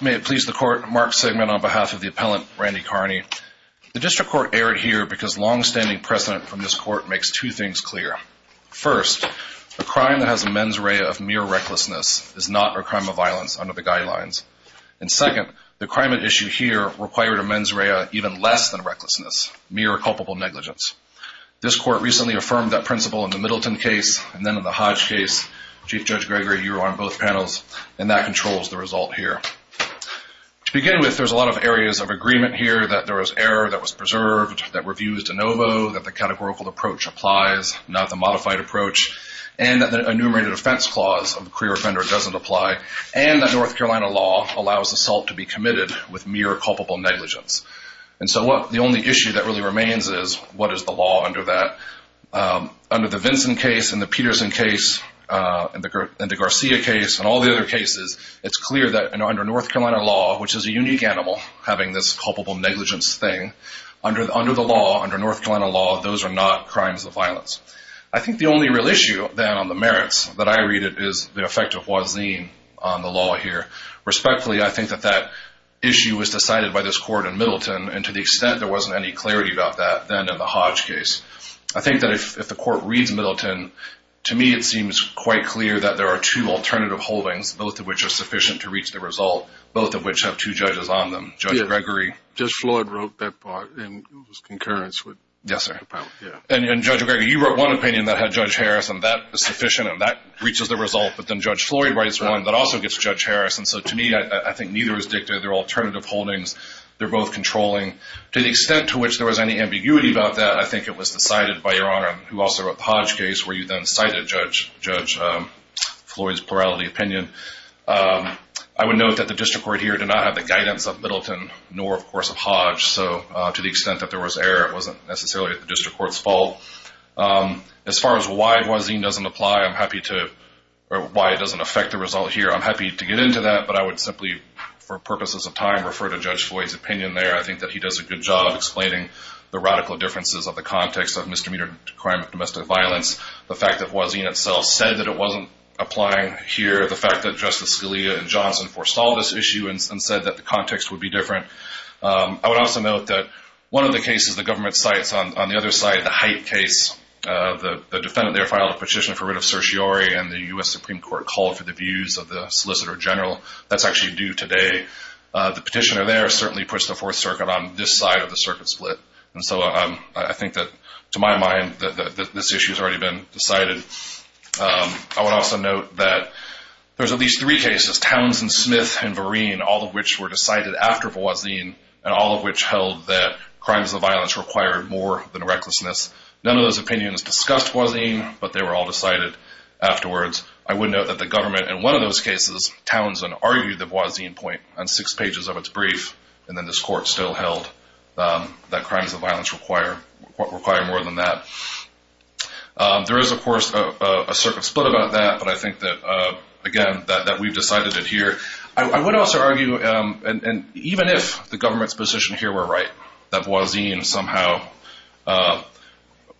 May it please the court, Mark Segment on behalf of the appellant, Randy Carney. The district court erred here because long-standing precedent from this court makes two things clear. First, a crime that has a mens rea of mere recklessness is not a crime of violence under the guidelines. And second, the crime at issue here required a mens rea even less than recklessness, mere culpable negligence. This court recently affirmed that principle in the Middleton case and then in the Hodge case. Chief Judge Gregory, you were on both panels, and that controls the result here. To begin with, there's a lot of areas of agreement here that there was error that was preserved, that review is de novo, that the categorical approach applies, not the modified approach, and that the enumerated offense clause of the career offender doesn't apply, and that North Carolina law allows assault to be committed with mere culpable negligence. And so the only issue that really remains is what is the law under that. Under the Vinson case and the Peterson case and the Garcia case and all the other cases, it's clear that under North Carolina law, which is a unique animal, having this culpable negligence thing, under the law, under North Carolina law, those are not crimes of violence. I think the only real issue then on the merits that I read is the effect of Hua Zin on the law here. Respectfully, I think that that issue was decided by this court in Middleton, and to the extent there wasn't any clarity about that then in the Hodge case. I think that if the court reads Middleton, to me it seems quite clear that there are two alternative holdings, both of which are sufficient to reach the result, both of which have two judges on them, Judge Gregory. Judge Floyd wrote that part, and it was concurrence. Yes, sir. And Judge Gregory, you wrote one opinion that had Judge Harris, and that is sufficient, and that reaches the result, but then Judge Floyd writes one that also gets Judge Harris, and so to me I think neither is dictated. They're alternative holdings. They're both controlling. To the extent to which there was any ambiguity about that, I think it was decided by Your Honor, who also wrote the Hodge case, where you then cited Judge Floyd's plurality opinion. I would note that the district court here did not have the guidance of Middleton, nor, of course, of Hodge, so to the extent that there was error, it wasn't necessarily the district court's fault. As far as why Voisin doesn't apply, I'm happy to, or why it doesn't affect the result here, I'm happy to get into that, but I would simply, for purposes of time, refer to Judge Floyd's opinion there. I think that he does a good job explaining the radical differences of the context of misdemeanor crime and domestic violence, the fact that Voisin itself said that it wasn't applying here, the fact that Justice Scalia and Johnson forestalled this issue and said that the context would be different. I would also note that one of the cases the government cites on the other side, the Height case, the defendant there filed a petition for writ of certiorari, and the U.S. Supreme Court called for the views of the Solicitor General. That's actually due today. The petitioner there certainly puts the Fourth Circuit on this side of the circuit split, and so I think that, to my mind, this issue has already been decided. I would also note that there's at least three cases, Towns and Smith and Vereen, all of which were decided after Voisin and all of which held that crimes of violence required more than recklessness. None of those opinions discussed Voisin, but they were all decided afterwards. I would note that the government, in one of those cases, Towns and argued the Voisin point on six pages of its brief, and then this court still held that crimes of violence require more than that. There is, of course, a circuit split about that, but I think that, again, that we've decided it here. I would also argue, even if the government's position here were right, that Voisin somehow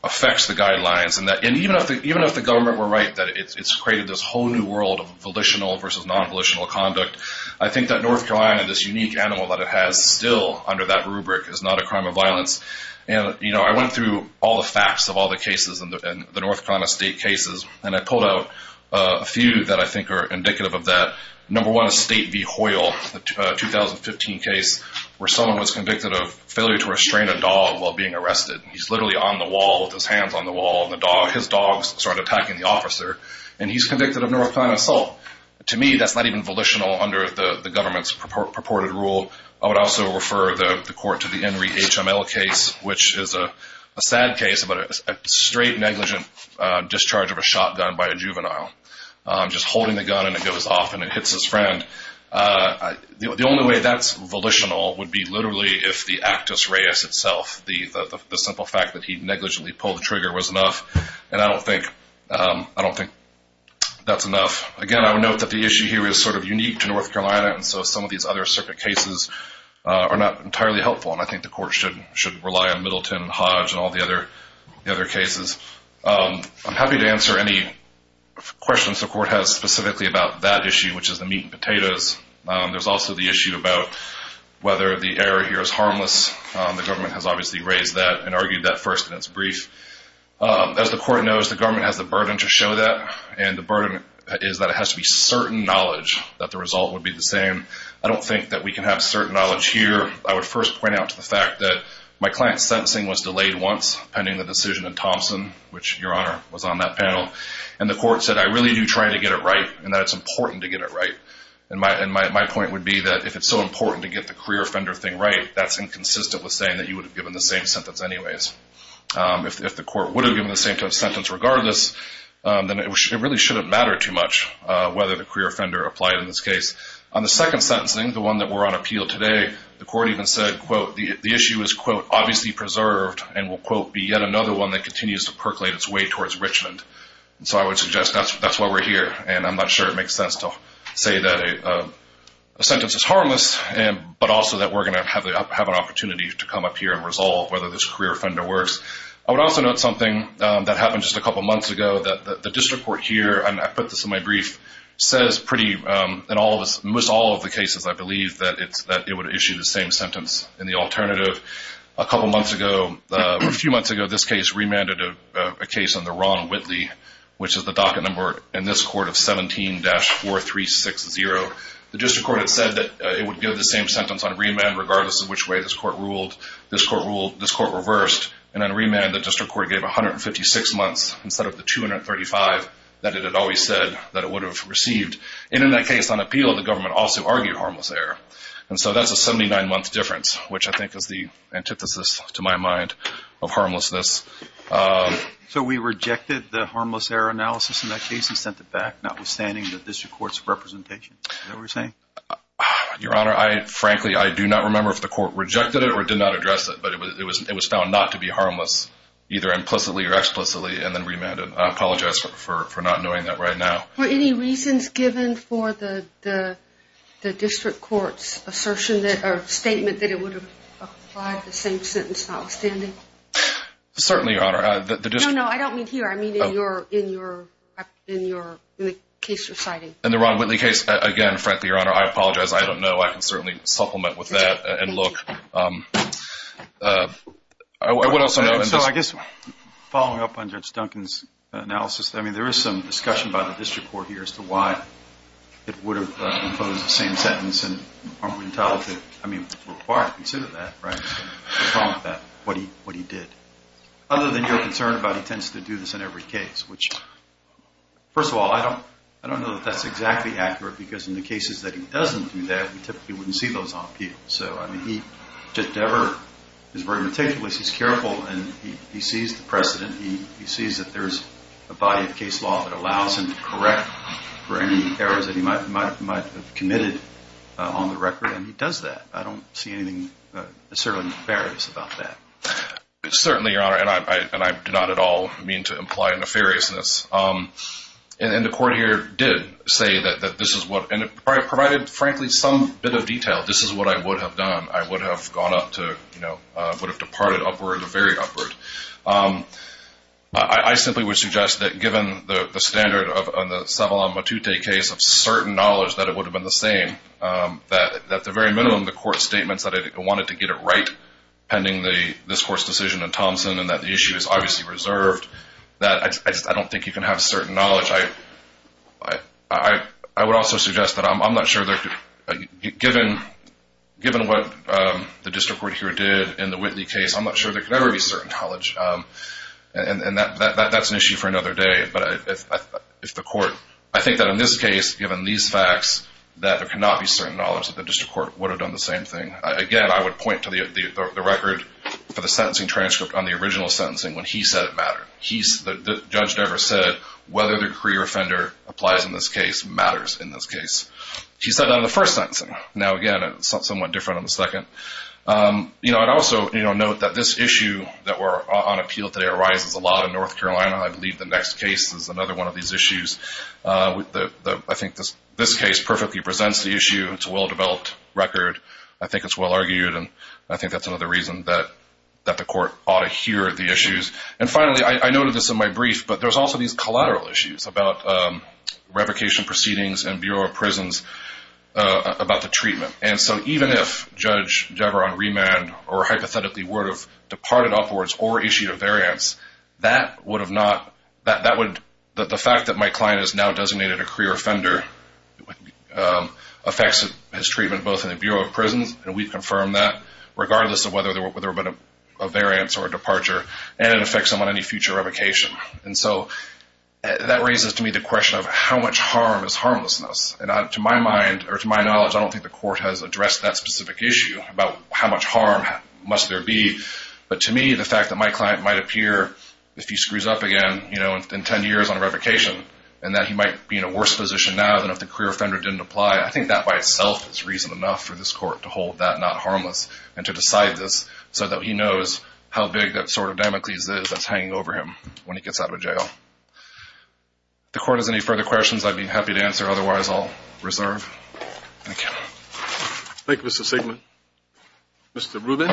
affects the guidelines, and even if the government were right that it's created this whole new world of volitional versus non-volitional conduct, I think that North Carolina, this unique animal that it has still under that rubric, is not a crime of violence. I went through all the facts of all the cases in the North Carolina state cases, and I pulled out a few that I think are indicative of that. Number one is State v. Hoyle, the 2015 case where someone was convicted of failure to restrain a dog while being arrested. He's literally on the wall with his hands on the wall, and his dogs started attacking the officer, and he's convicted of North Carolina assault. To me, that's not even volitional under the government's purported rule. I would also refer the court to the Henry HML case, which is a sad case, but a straight negligent discharge of a shotgun by a juvenile. Just holding the gun, and it goes off, and it hits his friend. The only way that's volitional would be literally if the actus reus itself, the simple fact that he negligently pulled the trigger was enough, and I don't think that's enough. Again, I would note that the issue here is sort of unique to North Carolina, and so some of these other circuit cases are not entirely helpful, and I think the court should rely on Middleton and Hodge and all the other cases. I'm happy to answer any questions the court has specifically about that issue, which is the meat and potatoes. There's also the issue about whether the error here is harmless. The government has obviously raised that and argued that first in its brief. As the court knows, the government has the burden to show that, and the burden is that it has to be certain knowledge that the result would be the same. I don't think that we can have certain knowledge here. I would first point out to the fact that my client's sentencing was delayed once pending the decision in Thompson, which, Your Honor, was on that panel, and the court said, I really do try to get it right and that it's important to get it right, and my point would be that if it's so important to get the career offender thing right, that's inconsistent with saying that you would have given the same sentence anyways. If the court would have given the same sentence regardless, then it really shouldn't matter too much whether the career offender applied in this case. On the second sentencing, the one that we're on appeal today, the court even said, quote, the issue is, quote, obviously preserved and will, quote, be yet another one that continues to percolate its way towards Richmond. So I would suggest that's why we're here, and I'm not sure it makes sense to say that a sentence is harmless, but also that we're going to have an opportunity to come up here and resolve whether this career offender works. I would also note something that happened just a couple months ago, that the district court here, and I put this in my brief, says pretty in most all of the cases, I believe, that it would issue the same sentence in the alternative. A couple months ago, a few months ago, this case remanded a case under Ron Whitley, which is the docket number in this court of 17-4360. The district court had said that it would give the same sentence on remand regardless of which way this court ruled. This court ruled, this court reversed, and on remand, the district court gave 156 months instead of the 235 that it had always said that it would have received. And in that case, on appeal, the government also argued harmless error. And so that's a 79-month difference, which I think is the antithesis, to my mind, of harmlessness. So we rejected the harmless error analysis in that case and sent it back, notwithstanding the district court's representation. Is that what you're saying? Your Honor, frankly, I do not remember if the court rejected it or did not address it, but it was found not to be harmless, either implicitly or explicitly, and then remanded. I apologize for not knowing that right now. Were any reasons given for the district court's assertion or statement that it would have applied the same sentence notwithstanding? Certainly, Your Honor. No, no, I don't mean here. I mean in your case reciting. In the Ron Whitley case, again, frankly, Your Honor, I apologize. I don't know. I can certainly supplement with that and look. So I guess following up on Judge Duncan's analysis, I mean there is some discussion by the district court here as to why it would have imposed the same sentence and are we entitled to, I mean, required to consider that, right? What he did. Other than your concern about he tends to do this in every case, which, first of all, I don't know that that's exactly accurate because in the cases that he doesn't do that, we typically wouldn't see those on appeal. So, I mean, he just never is very meticulous. He's careful and he sees the precedent. He sees that there's a body of case law that allows him to correct for any errors that he might have committed on the record and he does that. I don't see anything necessarily nefarious about that. Certainly, Your Honor, and I do not at all mean to imply nefariousness. And the court here did say that this is what, and it provided, frankly, some bit of detail. This is what I would have done. I would have gone up to, you know, would have departed upward or very upward. I simply would suggest that given the standard on the Savala-Matute case of certain knowledge that it would have been the same, that at the very minimum, the court's statements that it wanted to get it right pending this court's decision in Thompson and that the issue is obviously reserved, that I don't think you can have certain knowledge. I would also suggest that I'm not sure that given what the district court here did in the Whitley case, I'm not sure there could ever be certain knowledge. And that's an issue for another day. But if the court, I think that in this case, given these facts, that there cannot be certain knowledge that the district court would have done the same thing. Again, I would point to the record for the sentencing transcript on the original sentencing when he said it mattered. The judge never said whether the career offender applies in this case matters in this case. He said that in the first sentencing. Now, again, it's somewhat different on the second. You know, I'd also note that this issue that we're on appeal today arises a lot in North Carolina. I believe the next case is another one of these issues. I think this case perfectly presents the issue. It's a well-developed record. I think it's well-argued, and I think that's another reason that the court ought to hear the issues. And finally, I noted this in my brief, but there's also these collateral issues about revocation proceedings and Bureau of Prisons about the treatment. And so even if Judge Deveron remanded or hypothetically would have departed upwards or issued a variance, that would have not – that would – the fact that my client has now designated a career offender affects his treatment both in the Bureau of Prisons, and we've confirmed that, regardless of whether there would have been a variance or a departure, and it affects him on any future revocation. And so that raises to me the question of how much harm is harmlessness. And to my mind, or to my knowledge, I don't think the court has addressed that specific issue about how much harm must there be. But to me, the fact that my client might appear, if he screws up again, you know, in 10 years on a revocation, and that he might be in a worse position now than if the career offender didn't apply, I think that by itself is reason enough for this court to hold that not harmless and to decide this so that he knows how big that sword of Damocles is that's hanging over him when he gets out of jail. If the court has any further questions, I'd be happy to answer. Otherwise, I'll reserve. Thank you. Thank you, Mr. Sigman. Mr. Rubin.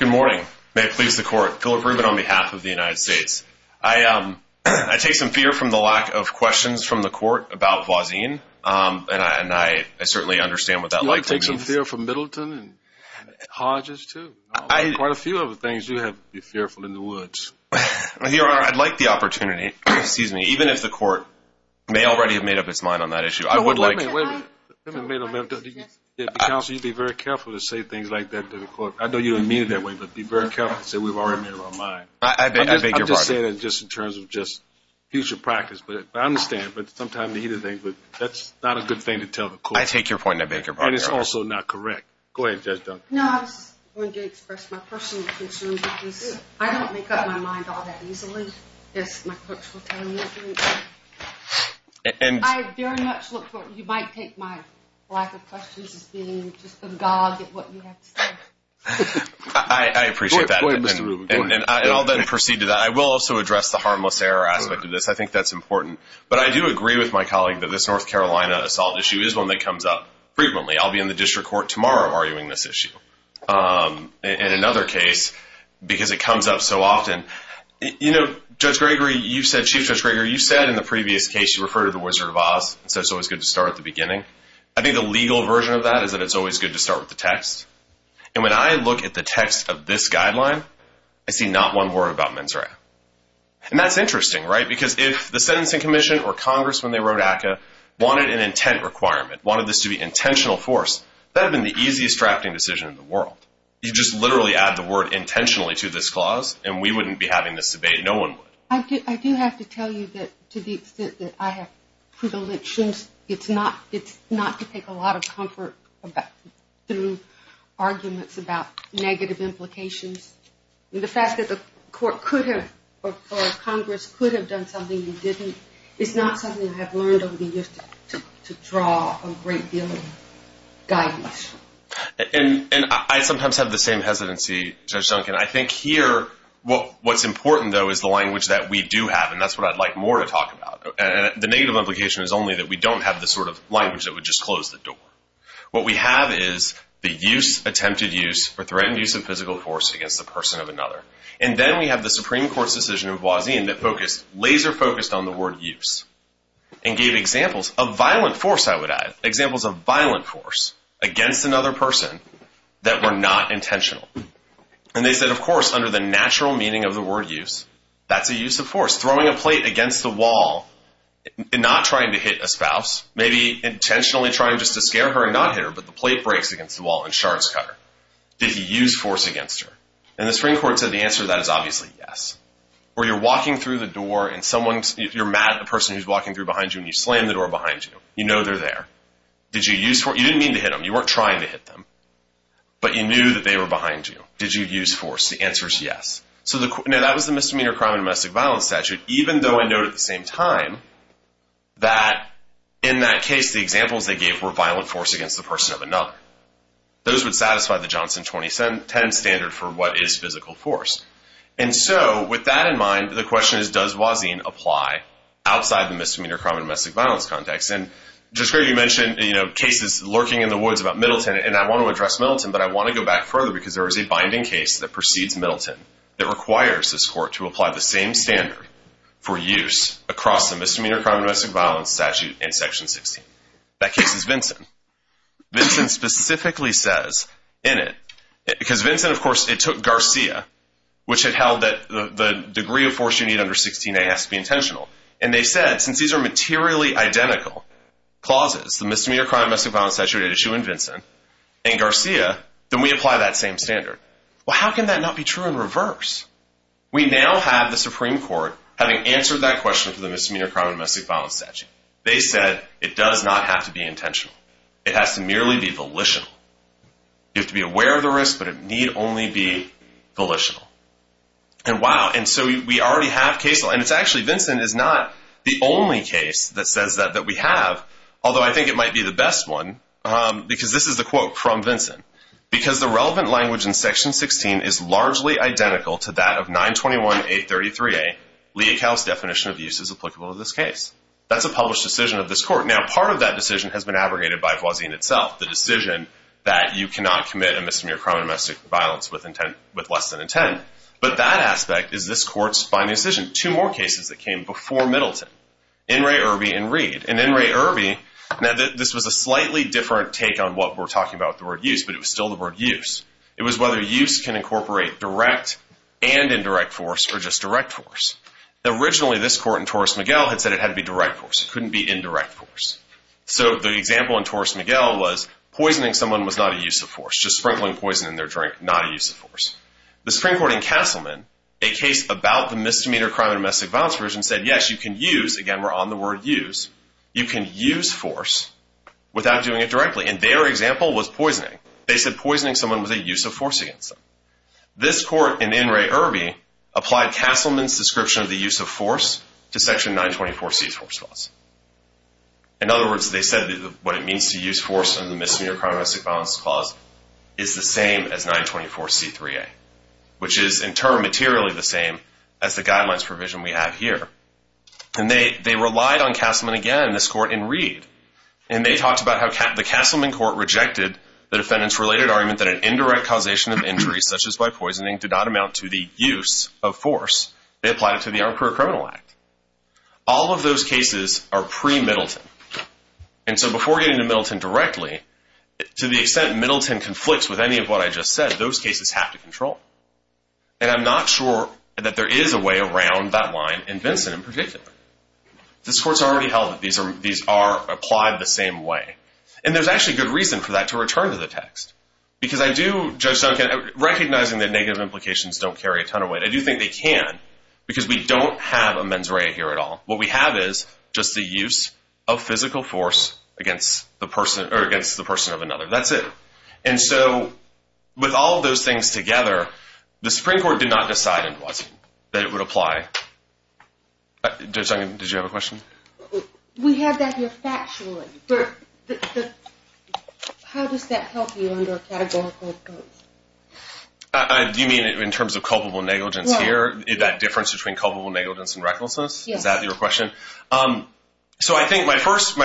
Good morning. May it please the Court. Philip Rubin on behalf of the United States. I take some fear from the lack of questions from the Court about Voisin, and I certainly understand what that likely means. Yeah, I take some fear from Middleton and Hodges, too. Quite a few of the things you have to be fearful in the woods. Your Honor, I'd like the opportunity, even if the Court may already have made up its mind on that issue. Wait a minute. Counsel, you'd be very careful to say things like that to the Court. I know you don't mean it that way, but be very careful to say we've already made up our mind. I beg your pardon. I'm just saying it in terms of just future practice, but I understand. But sometimes it's not a good thing to tell the Court. I take your point and I beg your pardon, Your Honor. And it's also not correct. Go ahead, Judge Dunn. No, I was going to express my personal concerns because I don't make up my mind all that easily, as my clerks will tell you. I very much look for it. You might take my lack of questions as being just a dog at what you have to say. I appreciate that. Go ahead, Mr. Rubin. And I'll then proceed to that. I will also address the harmless error aspect of this. I think that's important. But I do agree with my colleague that this North Carolina assault issue is one that comes up frequently. I'll be in the district court tomorrow arguing this issue. In another case, because it comes up so often, you know, Judge Gregory, you've said, Chief Judge Gregory, you've said in the previous case you refer to the Wizard of Oz and said it's always good to start at the beginning. I think the legal version of that is that it's always good to start with the text. And when I look at the text of this guideline, I see not one word about mens rea. And that's interesting, right? Because if the Sentencing Commission or Congress, when they wrote ACCA, wanted an intent requirement, wanted this to be intentional force, that would have been the easiest drafting decision in the world. You just literally add the word intentionally to this clause, and we wouldn't be having this debate. No one would. I do have to tell you that to the extent that I have predilections, it's not to take a lot of comfort through arguments about negative implications. The fact that the court could have or Congress could have done something you didn't is not something I have learned over the years to draw a great deal of guidance. And I sometimes have the same hesitancy, Judge Duncan. I think here what's important, though, is the language that we do have, and that's what I'd like more to talk about. The negative implication is only that we don't have the sort of language that would just close the door. What we have is the use, attempted use, or threatened use of physical force against the person of another. And then we have the Supreme Court's decision in Boisillon that focused, laser focused on the word use and gave examples of violent force, I would add, examples of violent force against another person that were not intentional. And they said, of course, under the natural meaning of the word use, that's a use of force. Throwing a plate against the wall and not trying to hit a spouse, maybe intentionally trying just to scare her and not hit her, but the plate breaks against the wall and shards cut her. Did he use force against her? And the Supreme Court said the answer to that is obviously yes. Or you're walking through the door and someone's, you're mad at the person who's walking through behind you and you slam the door behind you. You know they're there. Did you use force? You didn't mean to hit them. You weren't trying to hit them. But you knew that they were behind you. Did you use force? The answer is yes. Now, that was the Misdemeanor Crime and Domestic Violence Statute, even though I note at the same time that in that case, the examples they gave were violent force against the person of another. Those would satisfy the Johnson 2010 standard for what is physical force. And so with that in mind, the question is, does Wazin apply outside the Misdemeanor Crime and Domestic Violence context? And Jessica, you mentioned cases lurking in the woods about Middleton, and I want to address Middleton, but I want to go back further because there is a binding case that precedes Middleton that requires this court to apply the same standard for use across the Misdemeanor Crime and Domestic Violence Statute in Section 16. Vinson specifically says in it, because Vinson, of course, it took Garcia, which had held that the degree of force you need under 16A has to be intentional. And they said, since these are materially identical clauses, the Misdemeanor Crime and Domestic Violence Statute issue in Vinson and Garcia, then we apply that same standard. Well, how can that not be true in reverse? We now have the Supreme Court, having answered that question for the Misdemeanor Crime and Domestic Violence Statute. They said it does not have to be intentional. It has to merely be volitional. You have to be aware of the risk, but it need only be volitional. And wow, and so we already have case law. And it's actually Vinson is not the only case that says that we have, although I think it might be the best one, because this is the quote from Vinson. Because the relevant language in Section 16 is largely identical to that of 921.833A, Leach House definition of use is applicable to this case. That's a published decision of this court. Now, part of that decision has been abrogated by Voisin itself. The decision that you cannot commit a misdemeanor crime or domestic violence with less than intent. But that aspect is this court's final decision. Two more cases that came before Middleton, In re Irby and Reed. In re Irby, this was a slightly different take on what we're talking about with the word use, but it was still the word use. It was whether use can incorporate direct and indirect force or just direct force. Originally, this court in Torres Miguel had said it had to be direct force. It couldn't be indirect force. So the example in Torres Miguel was poisoning someone was not a use of force, just sprinkling poison in their drink, not a use of force. The Supreme Court in Castleman, a case about the misdemeanor crime or domestic violence version, said yes, you can use, again we're on the word use, you can use force without doing it directly. And their example was poisoning. They said poisoning someone was a use of force against them. This court in In re Irby applied Castleman's description of the use of force to Section 924C's force clause. In other words, they said what it means to use force in the misdemeanor crime or domestic violence clause is the same as 924C3A, which is in turn materially the same as the guidelines provision we have here. And they relied on Castleman again in this court in Reed. And they talked about how the Castleman court rejected the defendant's related argument that an indirect causation of injury, such as by poisoning, did not amount to the use of force. They applied it to the Armed Career Criminal Act. All of those cases are pre-Middleton. And so before getting to Middleton directly, to the extent Middleton conflicts with any of what I just said, those cases have to control. And I'm not sure that there is a way around that line in Vincent in particular. This court's already held that these are applied the same way. And there's actually good reason for that to return to the text. Because I do, Judge Duncan, recognizing that negative implications don't carry a ton of weight, I do think they can, because we don't have a mens rea here at all. What we have is just the use of physical force against the person of another. That's it. And so with all of those things together, the Supreme Court did not decide that it would apply. Judge Duncan, did you have a question? We have that here factually. But how does that help you under categorical terms? Do you mean in terms of culpable negligence here? That difference between culpable negligence and recklessness? Yes. Is that your question? So I think my first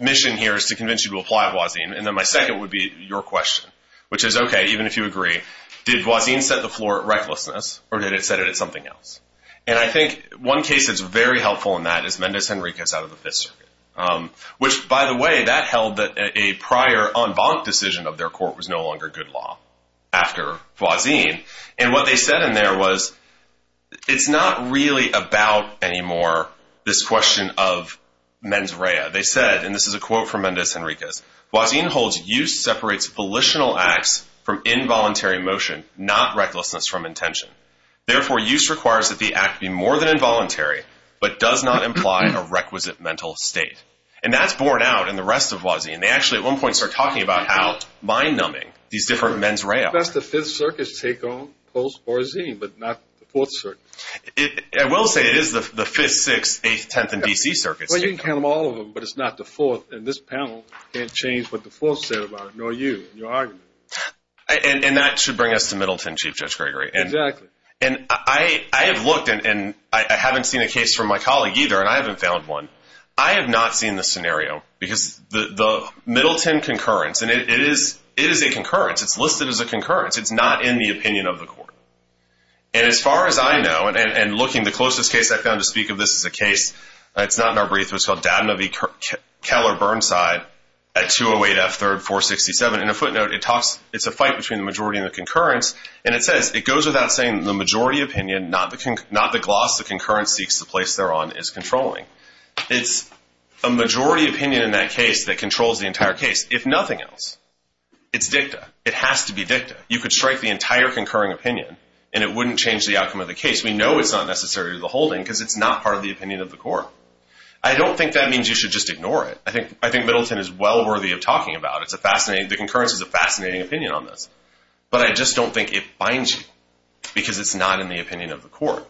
mission here is to convince you to apply Voisin. And then my second would be your question, which is, okay, even if you agree, did Voisin set the floor at recklessness or did it set it at something else? And I think one case that's very helpful in that is Mendez Henriquez out of the Fifth Circuit, which, by the way, that held that a prior en banc decision of their court was no longer good law after Voisin. And what they said in there was it's not really about anymore this question of mens rea. They said, and this is a quote from Mendez Henriquez, Voisin holds use separates volitional acts from involuntary motion, not recklessness from intention. Therefore, use requires that the act be more than involuntary but does not imply a requisite mental state. And that's borne out in the rest of Voisin. They actually at one point started talking about how mind numbing these different mens rea are. Now that's the Fifth Circuit's take on Post-Voisin, but not the Fourth Circuit. I will say it is the Fifth, Sixth, Eighth, Tenth, and D.C. Circuits. Well, you can count them all of them, but it's not the Fourth. And this panel can't change what the Fourth said about it, nor you, nor your argument. And that should bring us to Middleton, Chief Judge Gregory. Exactly. And I have looked, and I haven't seen a case from my colleague either, and I haven't found one. I have not seen the scenario because the Middleton concurrence, and it is a concurrence. It's listed as a concurrence. It's not in the opinion of the court. And as far as I know, and looking, the closest case I've found to speak of this is a case, it's not in our brief, but it's called Doudna v. Keller Burnside at 208 F. 3rd 467. And a footnote, it's a fight between the majority and the concurrence, and it says it goes without saying the majority opinion, not the gloss the concurrence seeks to place thereon, is controlling. It's a majority opinion in that case that controls the entire case, if nothing else. It's dicta. It has to be dicta. You could strike the entire concurring opinion, and it wouldn't change the outcome of the case. We know it's not necessary to the holding because it's not part of the opinion of the court. I don't think that means you should just ignore it. I think Middleton is well worthy of talking about it. The concurrence is a fascinating opinion on this. But I just don't think it binds you because it's not in the opinion of the court.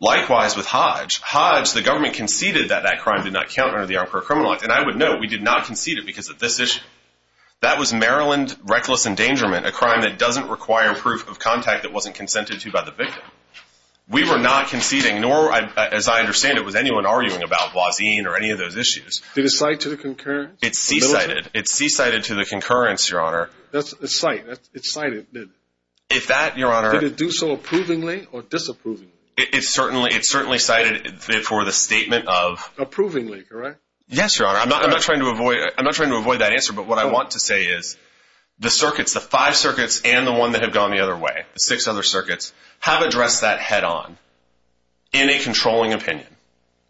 Likewise with Hodge. Hodge, the government conceded that that crime did not count under the Arbor Criminal Act, and I would note we did not concede it because of this issue. That was Maryland reckless endangerment, a crime that doesn't require proof of contact that wasn't consented to by the victim. We were not conceding, nor, as I understand it, was anyone arguing about Wazin or any of those issues. Did it cite to the concurrence? It's c-cited. It's c-cited to the concurrence, Your Honor. It's cited, isn't it? If that, Your Honor. Did it do so approvingly or disapprovingly? It certainly cited for the statement of. Approvingly, correct? Yes, Your Honor. I'm not trying to avoid that answer, but what I want to say is the circuits, the five circuits and the one that have gone the other way, the six other circuits, have addressed that head-on in a controlling opinion.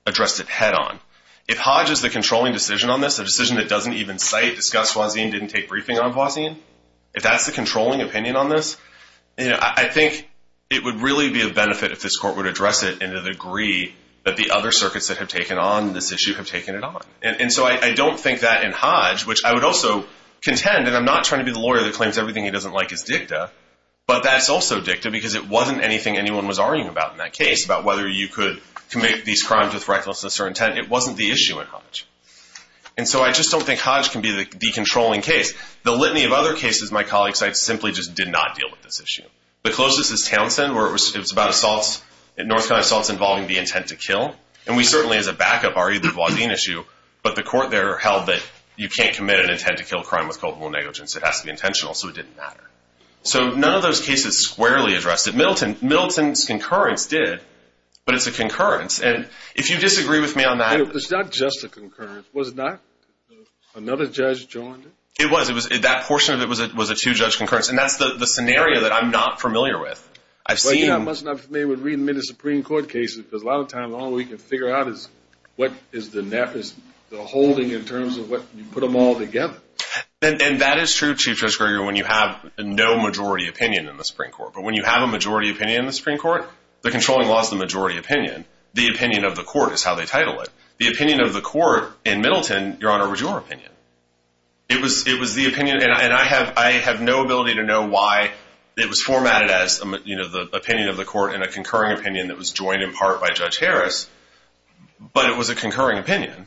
Addressed it head-on. If Hodge is the controlling decision on this, a decision that doesn't even cite, discuss Wazin, didn't take briefing on Wazin, if that's the controlling opinion on this, I think it would really be a benefit if this court would address it in a degree that the other circuits that have taken on this issue have taken it on. And so I don't think that in Hodge, which I would also contend, and I'm not trying to be the lawyer that claims everything he doesn't like is dicta, but that's also dicta because it wasn't anything anyone was arguing about in that case, about whether you could commit these crimes with recklessness or intent. It wasn't the issue in Hodge. And so I just don't think Hodge can be the controlling case. The litany of other cases my colleagues cite simply just did not deal with this issue. The closest is Townsend where it was about assaults, North Carolina assaults involving the intent to kill. And we certainly as a backup argued the Wazin issue, but the court there held that you can't commit an intent to kill a crime with culpable negligence. It has to be intentional. So it didn't matter. So none of those cases squarely addressed it. Middleton's concurrence did, but it's a concurrence. And if you disagree with me on that. It's not just a concurrence. Was it not? Another judge joined it? It was. That portion of it was a two-judge concurrence. And that's the scenario that I'm not familiar with. I've seen. I'm not familiar with re-admitted Supreme Court cases because a lot of times all we can figure out is what is the holding in terms of what you put them all together. And that is true, Chief Judge Greger, when you have no majority opinion in the Supreme Court. But when you have a majority opinion in the Supreme Court, the controlling law is the majority opinion. The opinion of the court is how they title it. The opinion of the court in Middleton, Your Honor, was your opinion. It was the opinion. And I have no ability to know why it was formatted as the opinion of the court in a concurring opinion that was joined in part by Judge Harris. But it was a concurring opinion.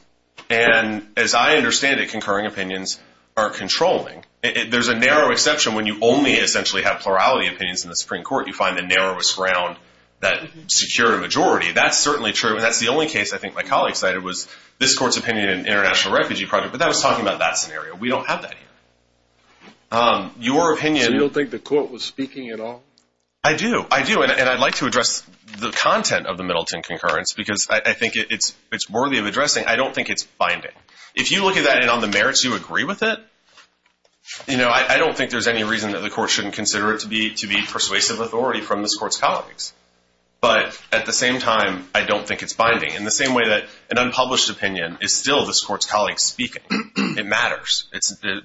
And as I understand it, concurring opinions are controlling. There's a narrow exception when you only essentially have plurality opinions in the Supreme Court. You find the narrowest ground that secure a majority. That's certainly true. And that's the only case I think my colleague cited was this court's opinion in an international refugee project. But that was talking about that scenario. We don't have that here. Your opinion. So you don't think the court was speaking at all? I do. I do. And I'd like to address the content of the Middleton concurrence because I think it's worthy of addressing. I don't think it's binding. If you look at that and on the merits you agree with it, I don't think there's any reason that the court shouldn't consider it to be persuasive authority from this court's colleagues. But at the same time, I don't think it's binding. In the same way that an unpublished opinion is still this court's colleague in speaking, it matters.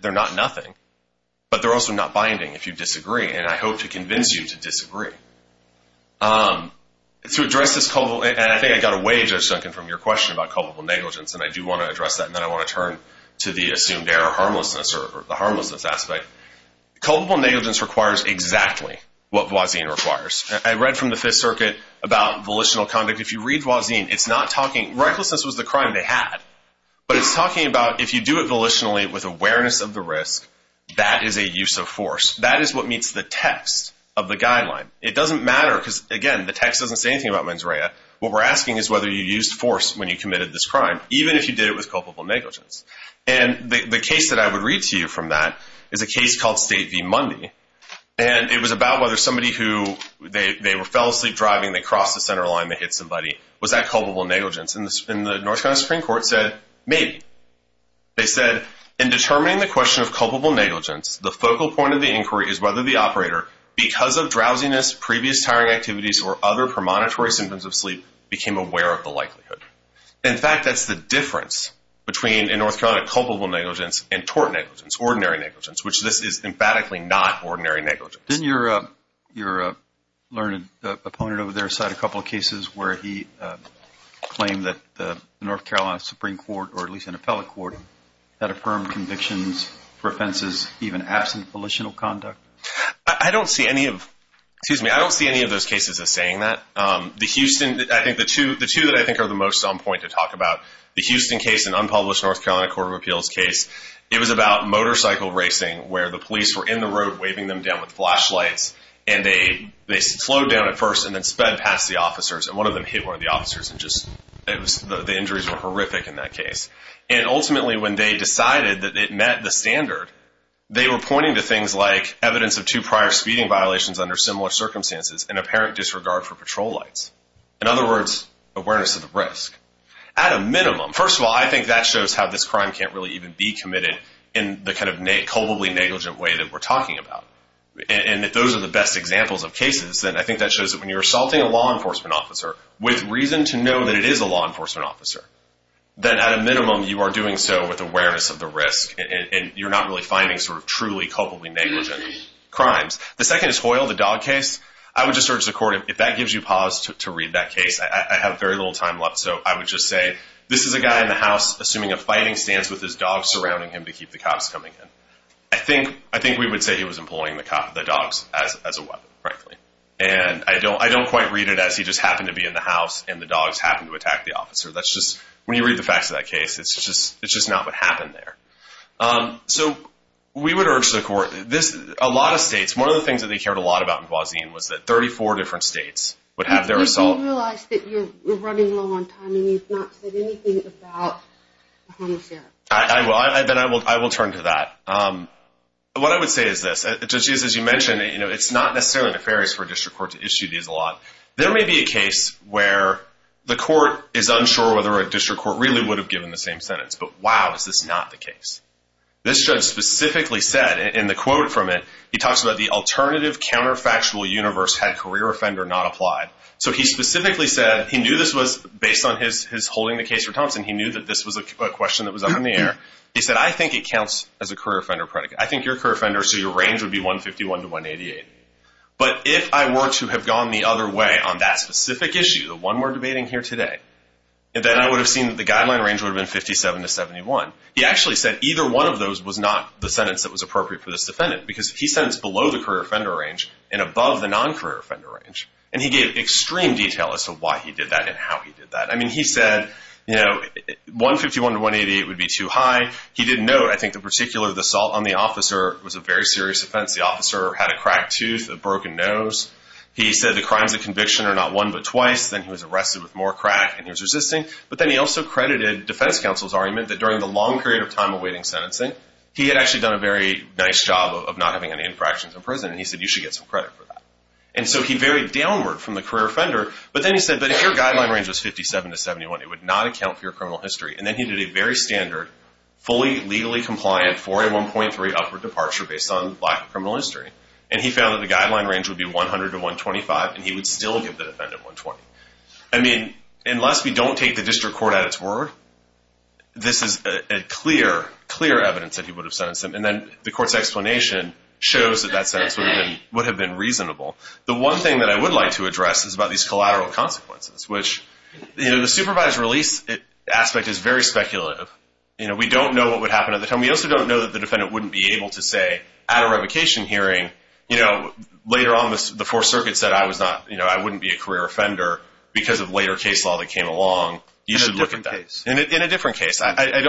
They're not nothing. But they're also not binding if you disagree. And I hope to convince you to disagree. To address this culpable – and I think I got away, Judge Duncan, from your question about culpable negligence. And I do want to address that. And then I want to turn to the assumed error of harmlessness or the harmlessness aspect. Culpable negligence requires exactly what Voisin requires. I read from the Fifth Circuit about volitional conduct. If you read Voisin, it's not talking – it's talking about if you do it volitionally with awareness of the risk, that is a use of force. That is what meets the text of the guideline. It doesn't matter because, again, the text doesn't say anything about mens rea. What we're asking is whether you used force when you committed this crime, even if you did it with culpable negligence. And the case that I would read to you from that is a case called State v. Mundy. And it was about whether somebody who – they fell asleep driving, they crossed the center line, they hit somebody. Was that culpable negligence? And the North Carolina Supreme Court said, maybe. They said, in determining the question of culpable negligence, the focal point of the inquiry is whether the operator, because of drowsiness, previous tiring activities, or other premonitory symptoms of sleep, became aware of the likelihood. In fact, that's the difference between, in North Carolina, culpable negligence and tort negligence, ordinary negligence, which this is emphatically not ordinary negligence. Didn't your learned opponent over there cite a couple of cases where he claimed that the North Carolina Supreme Court, or at least an appellate court, had affirmed convictions for offenses even absent of politional conduct? I don't see any of those cases as saying that. The two that I think are the most on point to talk about, the Houston case and unpublished North Carolina Court of Appeals case, it was about motorcycle racing where the police were in the road waving them down with flashlights, and they slowed down at first and then sped past the officers. And one of them hit one of the officers and just, the injuries were horrific in that case. And ultimately when they decided that it met the standard, they were pointing to things like evidence of two prior speeding violations under similar circumstances and apparent disregard for patrol lights. In other words, awareness of the risk. At a minimum, first of all, I think that shows how this crime can't really even be committed in the kind of culpably negligent way that we're talking about. And if those are the best examples of cases, then I think that shows that when you're assaulting a law enforcement officer with reason to know that it is a law enforcement officer, then at a minimum you are doing so with awareness of the risk and you're not really finding sort of truly culpably negligent crimes. The second is Hoyle, the dog case. I would just urge the court, if that gives you pause to read that case, I have very little time left, so I would just say, this is a guy in the house assuming a fighting stance with his dog surrounding him to keep the cops coming in. I think we would say he was employing the dogs as a weapon, frankly. And I don't quite read it as he just happened to be in the house and the dogs happened to attack the officer. That's just, when you read the facts of that case, it's just not what happened there. So we would urge the court. A lot of states, one of the things that they cared a lot about in Guazin was that 34 different states would have their assault... But you realize that you're running low on time and you've not said anything about a homicide. I will turn to that. What I would say is this. Judge Jesus, you mentioned it's not necessarily nefarious for a district court to issue these a lot. There may be a case where the court is unsure whether a district court really would have given the same sentence. But wow, is this not the case. This judge specifically said, in the quote from it, he talks about the alternative counterfactual universe had career offender not applied. So he specifically said, he knew this was, based on his holding the case for Thompson, he knew that this was a question that was up in the air. He said, I think it counts as a career offender predicate. I think you're a career offender, so your range would be 151 to 188. But if I were to have gone the other way on that specific issue, the one we're debating here today, then I would have seen that the guideline range would have been 57 to 71. He actually said either one of those was not the sentence that was appropriate for this defendant because he sentenced below the career offender range and above the non-career offender range. And he gave extreme detail as to why he did that and how he did that. I mean, he said, you know, 151 to 188 would be too high. He didn't know, I think, the particular assault on the officer was a very serious offense. The officer had a cracked tooth, a broken nose. He said the crimes of conviction are not one but twice. Then he was arrested with more crack and he was resisting. But then he also credited defense counsel's argument that during the long period of time awaiting sentencing, he had actually done a very nice job of not having any infractions in prison. And he said, you should get some credit for that. And so he varied downward from the career offender. But then he said, but if your guideline range was 57 to 71, it would not account for your criminal history. And then he did a very standard, fully legally compliant, 4A1.3 upward departure based on lack of criminal history. And he found that the guideline range would be 100 to 125, and he would still give the defendant 120. I mean, unless we don't take the district court at its word, this is a clear, clear evidence that he would have sentenced him. And then the court's explanation shows that that sentence would have been reasonable. The one thing that I would like to address is about these collateral consequences, which, you know, the supervised release aspect is very speculative. You know, we don't know what would happen at the time. We also don't know that the defendant wouldn't be able to say at a revocation hearing, you know, later on the Fourth Circuit said I was not, you know, I wouldn't be a career offender because of later case law that came along. You should look at that. In a different case. In a different case. I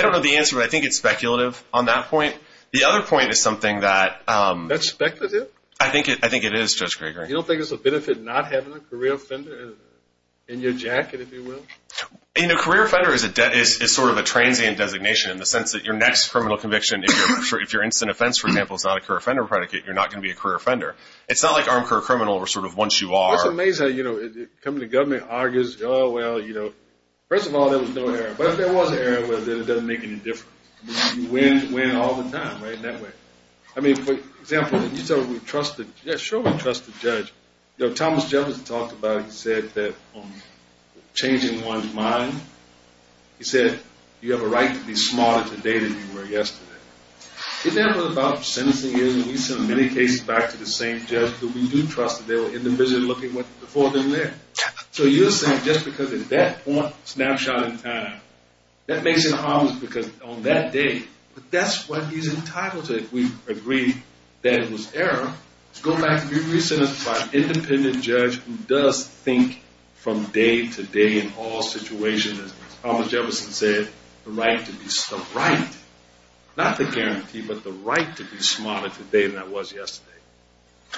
don't know the answer, but I think it's speculative on that point. The other point is something that. That's speculative? I think it is, Judge Krueger. You don't think it's a benefit not having a career offender in your jacket, if you will? You know, career offender is sort of a transient designation in the sense that your next criminal conviction, if your instant offense, for example, is not a career offender predicate, you're not going to be a career offender. It's not like armed career criminal where sort of once you are. It's amazing, you know, coming to government, argues, oh, well, you know. First of all, there was no error. But if there was an error, well, then it doesn't make any difference. You win all the time, right, in that way. I mean, for example, you tell me we trust the judge. Yeah, sure we trust the judge. You know, Thomas Jefferson talked about it. He said that changing one's mind. He said you have a right to be smarter today than you were yesterday. Isn't that what about sentencing is? And we send many cases back to the same judge. But we do trust that they were individually looking before they were there. So you're saying just because at that point, snapshot in time, that makes it harmless because on that day, that's what he's entitled to if we agree that it was error. It's going back to being re-sentenced by an independent judge who does think from day to day in all situations, as Thomas Jefferson said, the right to be smart. The right, not the guarantee, but the right to be smarter today than I was yesterday.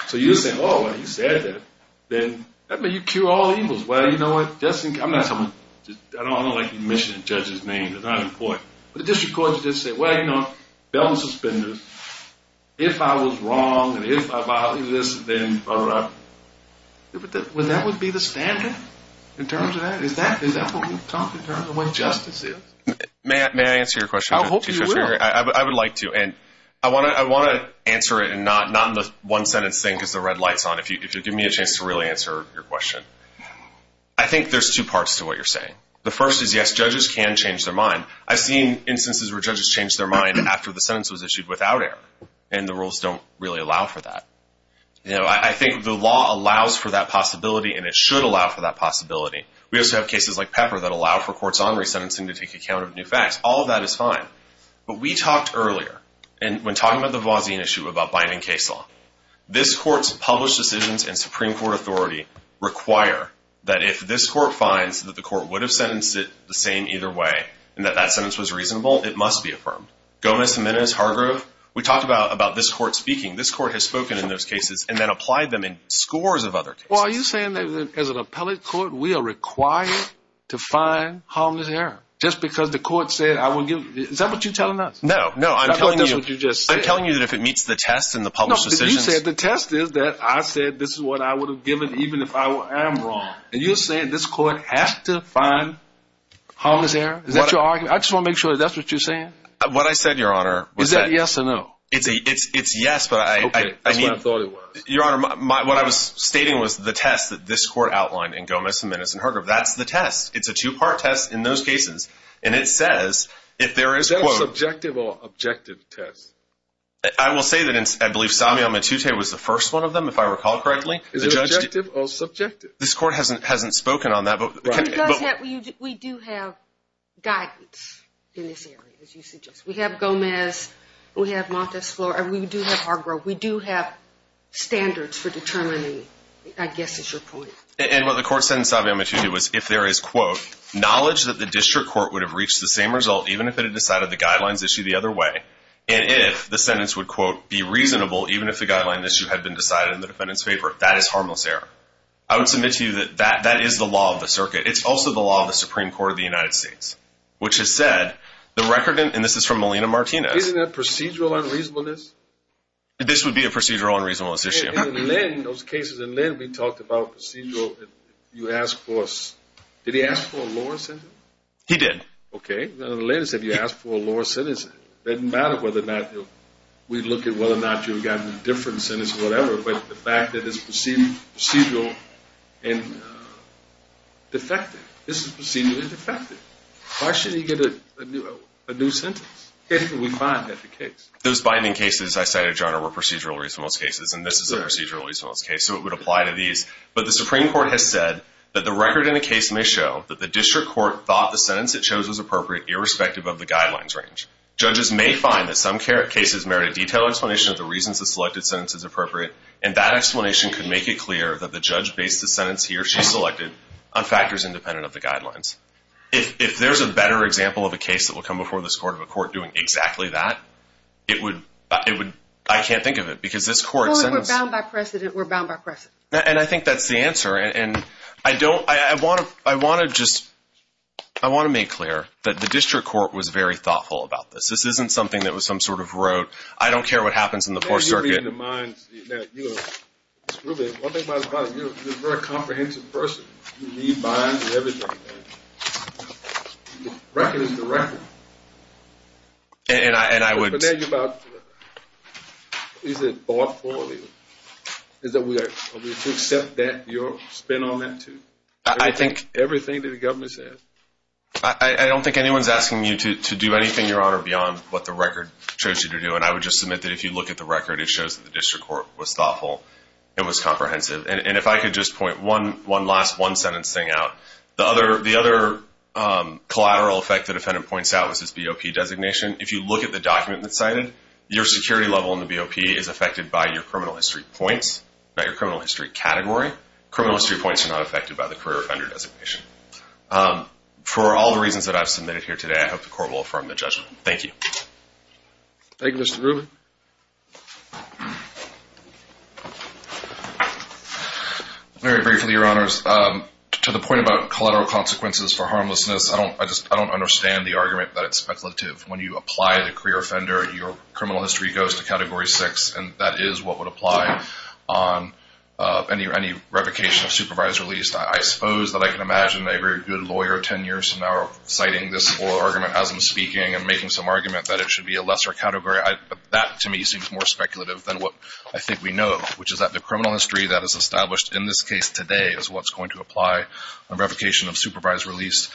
So you're saying, oh, well, he said that. Then you cure all evils. Well, you know what? I'm not telling you. I don't like you mentioning judges' names. It's not important. But the district courts just say, well, you know, bail and suspenders. If I was wrong and if I violated this, then all right. Would that be the standard in terms of that? Is that what we talk in terms of what justice is? May I answer your question? I hope you will. I would like to. And I want to answer it and not in the one-sentence thing because the red light's on, if you'll give me a chance to really answer your question. I think there's two parts to what you're saying. The first is, yes, judges can change their mind. I've seen instances where judges change their mind after the sentence was issued without error, and the rules don't really allow for that. I think the law allows for that possibility, and it should allow for that possibility. We also have cases like Pepper that allow for courts' honoree sentencing to take account of new facts. All of that is fine. But we talked earlier, when talking about the Voisin issue about binding case law, this court's published decisions and Supreme Court authority require that if this court finds that the court would have sentenced it the same either way and that that sentence was reasonable, it must be affirmed. Gomez-Jimenez, Hargrove, we talked about this court speaking. This court has spoken in those cases and then applied them in scores of other cases. Well, are you saying that as an appellate court we are required to find harmless error just because the court said, is that what you're telling us? No. That's what you just said. I'm telling you that if it meets the test in the published decisions. No, but you said the test is that I said this is what I would have given even if I am wrong. And you're saying this court has to find harmless error? Is that your argument? I just want to make sure that that's what you're saying. What I said, Your Honor. Is that yes or no? It's yes, but I mean. Okay. That's what I thought it was. Your Honor, what I was stating was the test that this court outlined in Gomez-Jimenez and Hargrove. That's the test. It's a two-part test in those cases, and it says if there is, quote. Is that a subjective or objective test? I will say that I believe Samuel Matute was the first one of them, if I recall correctly. Is it objective or subjective? This court hasn't spoken on that. We do have guidance in this area, as you suggest. We have Gomez. We have Montes Flores. We do have Hargrove. We do have standards for determining, I guess is your point. And what the court said in Samuel Matute was if there is, quote, knowledge that the district court would have reached the same result even if it had decided the guidelines issue the other way, and if the sentence would, quote, be reasonable even if the guideline issue had been decided in the defendant's favor, that is harmless error. I would submit to you that that is the law of the circuit. It's also the law of the Supreme Court of the United States, which has said the record, and this is from Melina Martinez. Isn't that procedural unreasonableness? This would be a procedural unreasonableness issue. In Linn, those cases in Linn, we talked about procedural. You asked for a, did he ask for a lower sentence? He did. Okay. In Linn it said you asked for a lower sentence. It doesn't matter whether or not we look at whether or not you've gotten a different sentence or whatever, but the fact that it's procedural and defective. This is procedurally defective. Why shouldn't he get a new sentence? Anything we find at the case. Those binding cases I cited, John, are procedural reasonableness cases, and this is a procedural reasonableness case, so it would apply to these. But the Supreme Court has said that the record in the case may show that the district court thought the sentence it chose was appropriate irrespective of the guidelines range. Judges may find that some cases merit a detailed explanation of the reasons the selected sentence is appropriate, and that explanation could make it clear that the judge based the sentence he or she selected on factors independent of the guidelines. If there's a better example of a case that will come before this court of a court doing exactly that, it would, I can't think of it because this court. Well, if we're bound by precedent, we're bound by precedent. And I think that's the answer. And I don't, I want to just, I want to make clear that the district court was very thoughtful about this. This isn't something that was some sort of rote, I don't care what happens in the Fourth Circuit. Now, you're reading the minds. Now, you know, Mr. Rubin, one thing about it is you're a very comprehensive person. You read minds and everything, and the record is the record. And I would. But then you're about, is it bought for you? Is it, are we to accept that, your spin on that too? I think. Everything that the government says. I don't think anyone's asking you to do anything, Your Honor, beyond what the record shows you to do. And I would just submit that if you look at the record, it shows that the district court was thoughtful and was comprehensive. And if I could just point one last one-sentence thing out. The other collateral effect the defendant points out was his BOP designation. If you look at the document that's cited, your security level in the BOP is affected by your criminal history points, not your criminal history category. Criminal history points are not affected by the career offender designation. For all the reasons that I've submitted here today, I hope the court will affirm the judgment. Thank you. Thank you, Mr. Rubin. Very briefly, Your Honors, to the point about collateral consequences for harmlessness, I don't understand the argument that it's speculative. When you apply the career offender, your criminal history goes to Category 6, and that is what would apply on any revocation of supervised release. I suppose that I can imagine a very good lawyer 10 years from now citing this whole argument as I'm speaking and making some argument that it should be a lesser category. But that, to me, seems more speculative than what I think we know, which is that the criminal history that is established in this case today is what's going to apply on revocation of supervised release.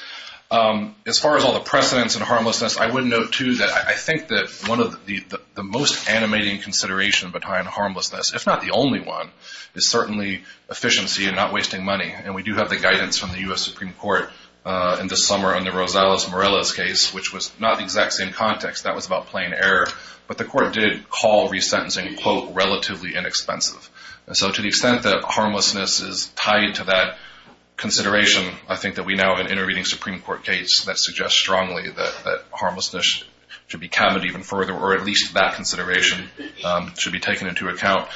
As far as all the precedents and harmlessness, I would note, too, that I think that one of the most animating considerations behind harmlessness, if not the only one, is certainly efficiency and not wasting money. And we do have the guidance from the U.S. Supreme Court in this summer on the Rosales-Morales case, which was not the exact same context. That was about plain error. But the court did call resentencing, quote, relatively inexpensive. And so to the extent that harmlessness is tied to that consideration, I think that we now have an intervening Supreme Court case that suggests strongly that harmlessness should be capped even further, or at least that consideration should be taken into account.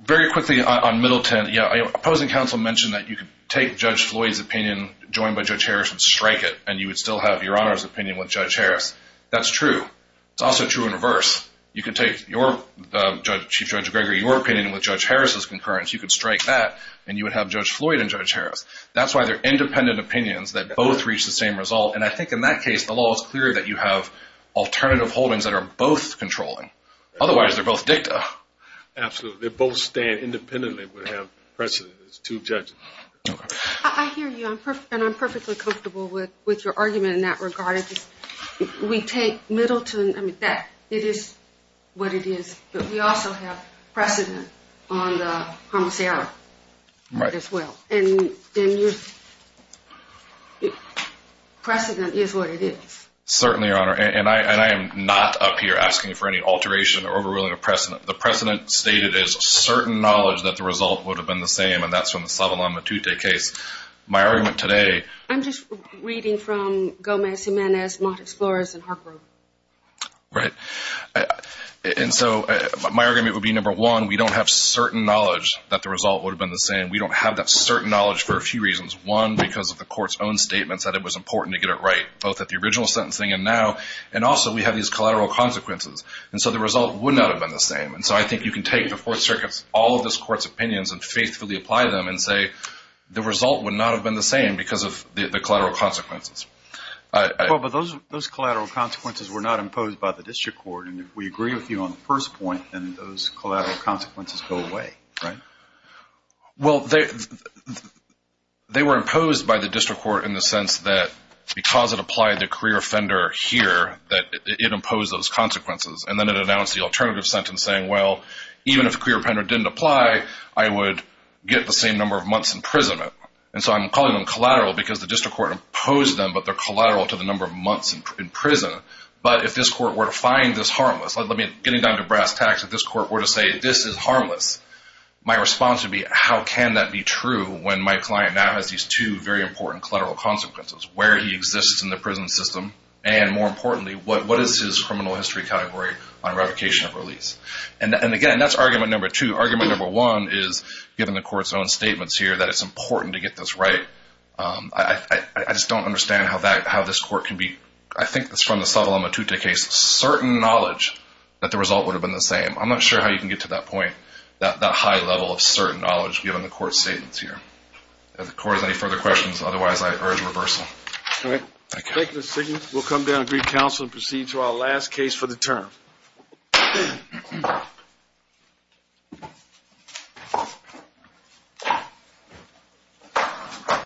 Very quickly on Middleton, opposing counsel mentioned that you could take Judge Floyd's opinion, joined by Judge Harris, and strike it, and you would still have Your Honor's opinion with Judge Harris. That's true. It's also true in reverse. You can take Chief Judge Gregory, your opinion, with Judge Harris's concurrence. You could strike that, and you would have Judge Floyd and Judge Harris. That's why they're independent opinions that both reach the same result. And I think in that case, the law is clear that you have alternative holdings that are both controlling. Otherwise, they're both dicta. Absolutely. They both stand independently would have precedent. There's two judges. I hear you, and I'm perfectly comfortable with your argument in that regard. We take Middleton. It is what it is. But we also have precedent on the homicidal as well. And precedent is what it is. Certainly, Your Honor. And I am not up here asking for any alteration or overruling of precedent. The precedent stated is certain knowledge that the result would have been the same, and that's from the Sava-La Matute case. My argument today. I'm just reading from Gomez-Jimenez, Mott Explorers, and Harper. Right. And so my argument would be, number one, we don't have certain knowledge that the result would have been the same. We don't have that certain knowledge for a few reasons. One, because of the Court's own statements that it was important to get it right, both at the original sentencing and now. And also, we have these collateral consequences. And so the result would not have been the same. And so I think you can take the Fourth Circuit's, all of this Court's opinions, and faithfully apply them and say the result would not have been the same because of the collateral consequences. Well, but those collateral consequences were not imposed by the district court. And if we agree with you on the first point, then those collateral consequences go away, right? Well, they were imposed by the district court in the sense that because it applied the career offender here, that it imposed those consequences. And then it announced the alternative sentence saying, well, even if career offender didn't apply, I would get the same number of months in prison. And so I'm calling them collateral because the district court imposed them, but they're collateral to the number of months in prison. But if this court were to find this harmless, like getting down to brass tacks, if this court were to say this is harmless, my response would be how can that be true when my client now has these two very important collateral consequences, where he exists in the prison system, and more importantly, what is his criminal history category on revocation of release? And again, that's argument number two. Argument number one is, given the court's own statements here, that it's important to get this right. I just don't understand how this court can be, I think it's from the Sotelo Matute case, certain knowledge that the result would have been the same. I'm not sure how you can get to that point, that high level of certain knowledge given the court's statements here. If the court has any further questions, otherwise I urge reversal. All right. Thank you, Mr. Stiglitz. We'll come down to brief counsel and proceed to our last case for the term.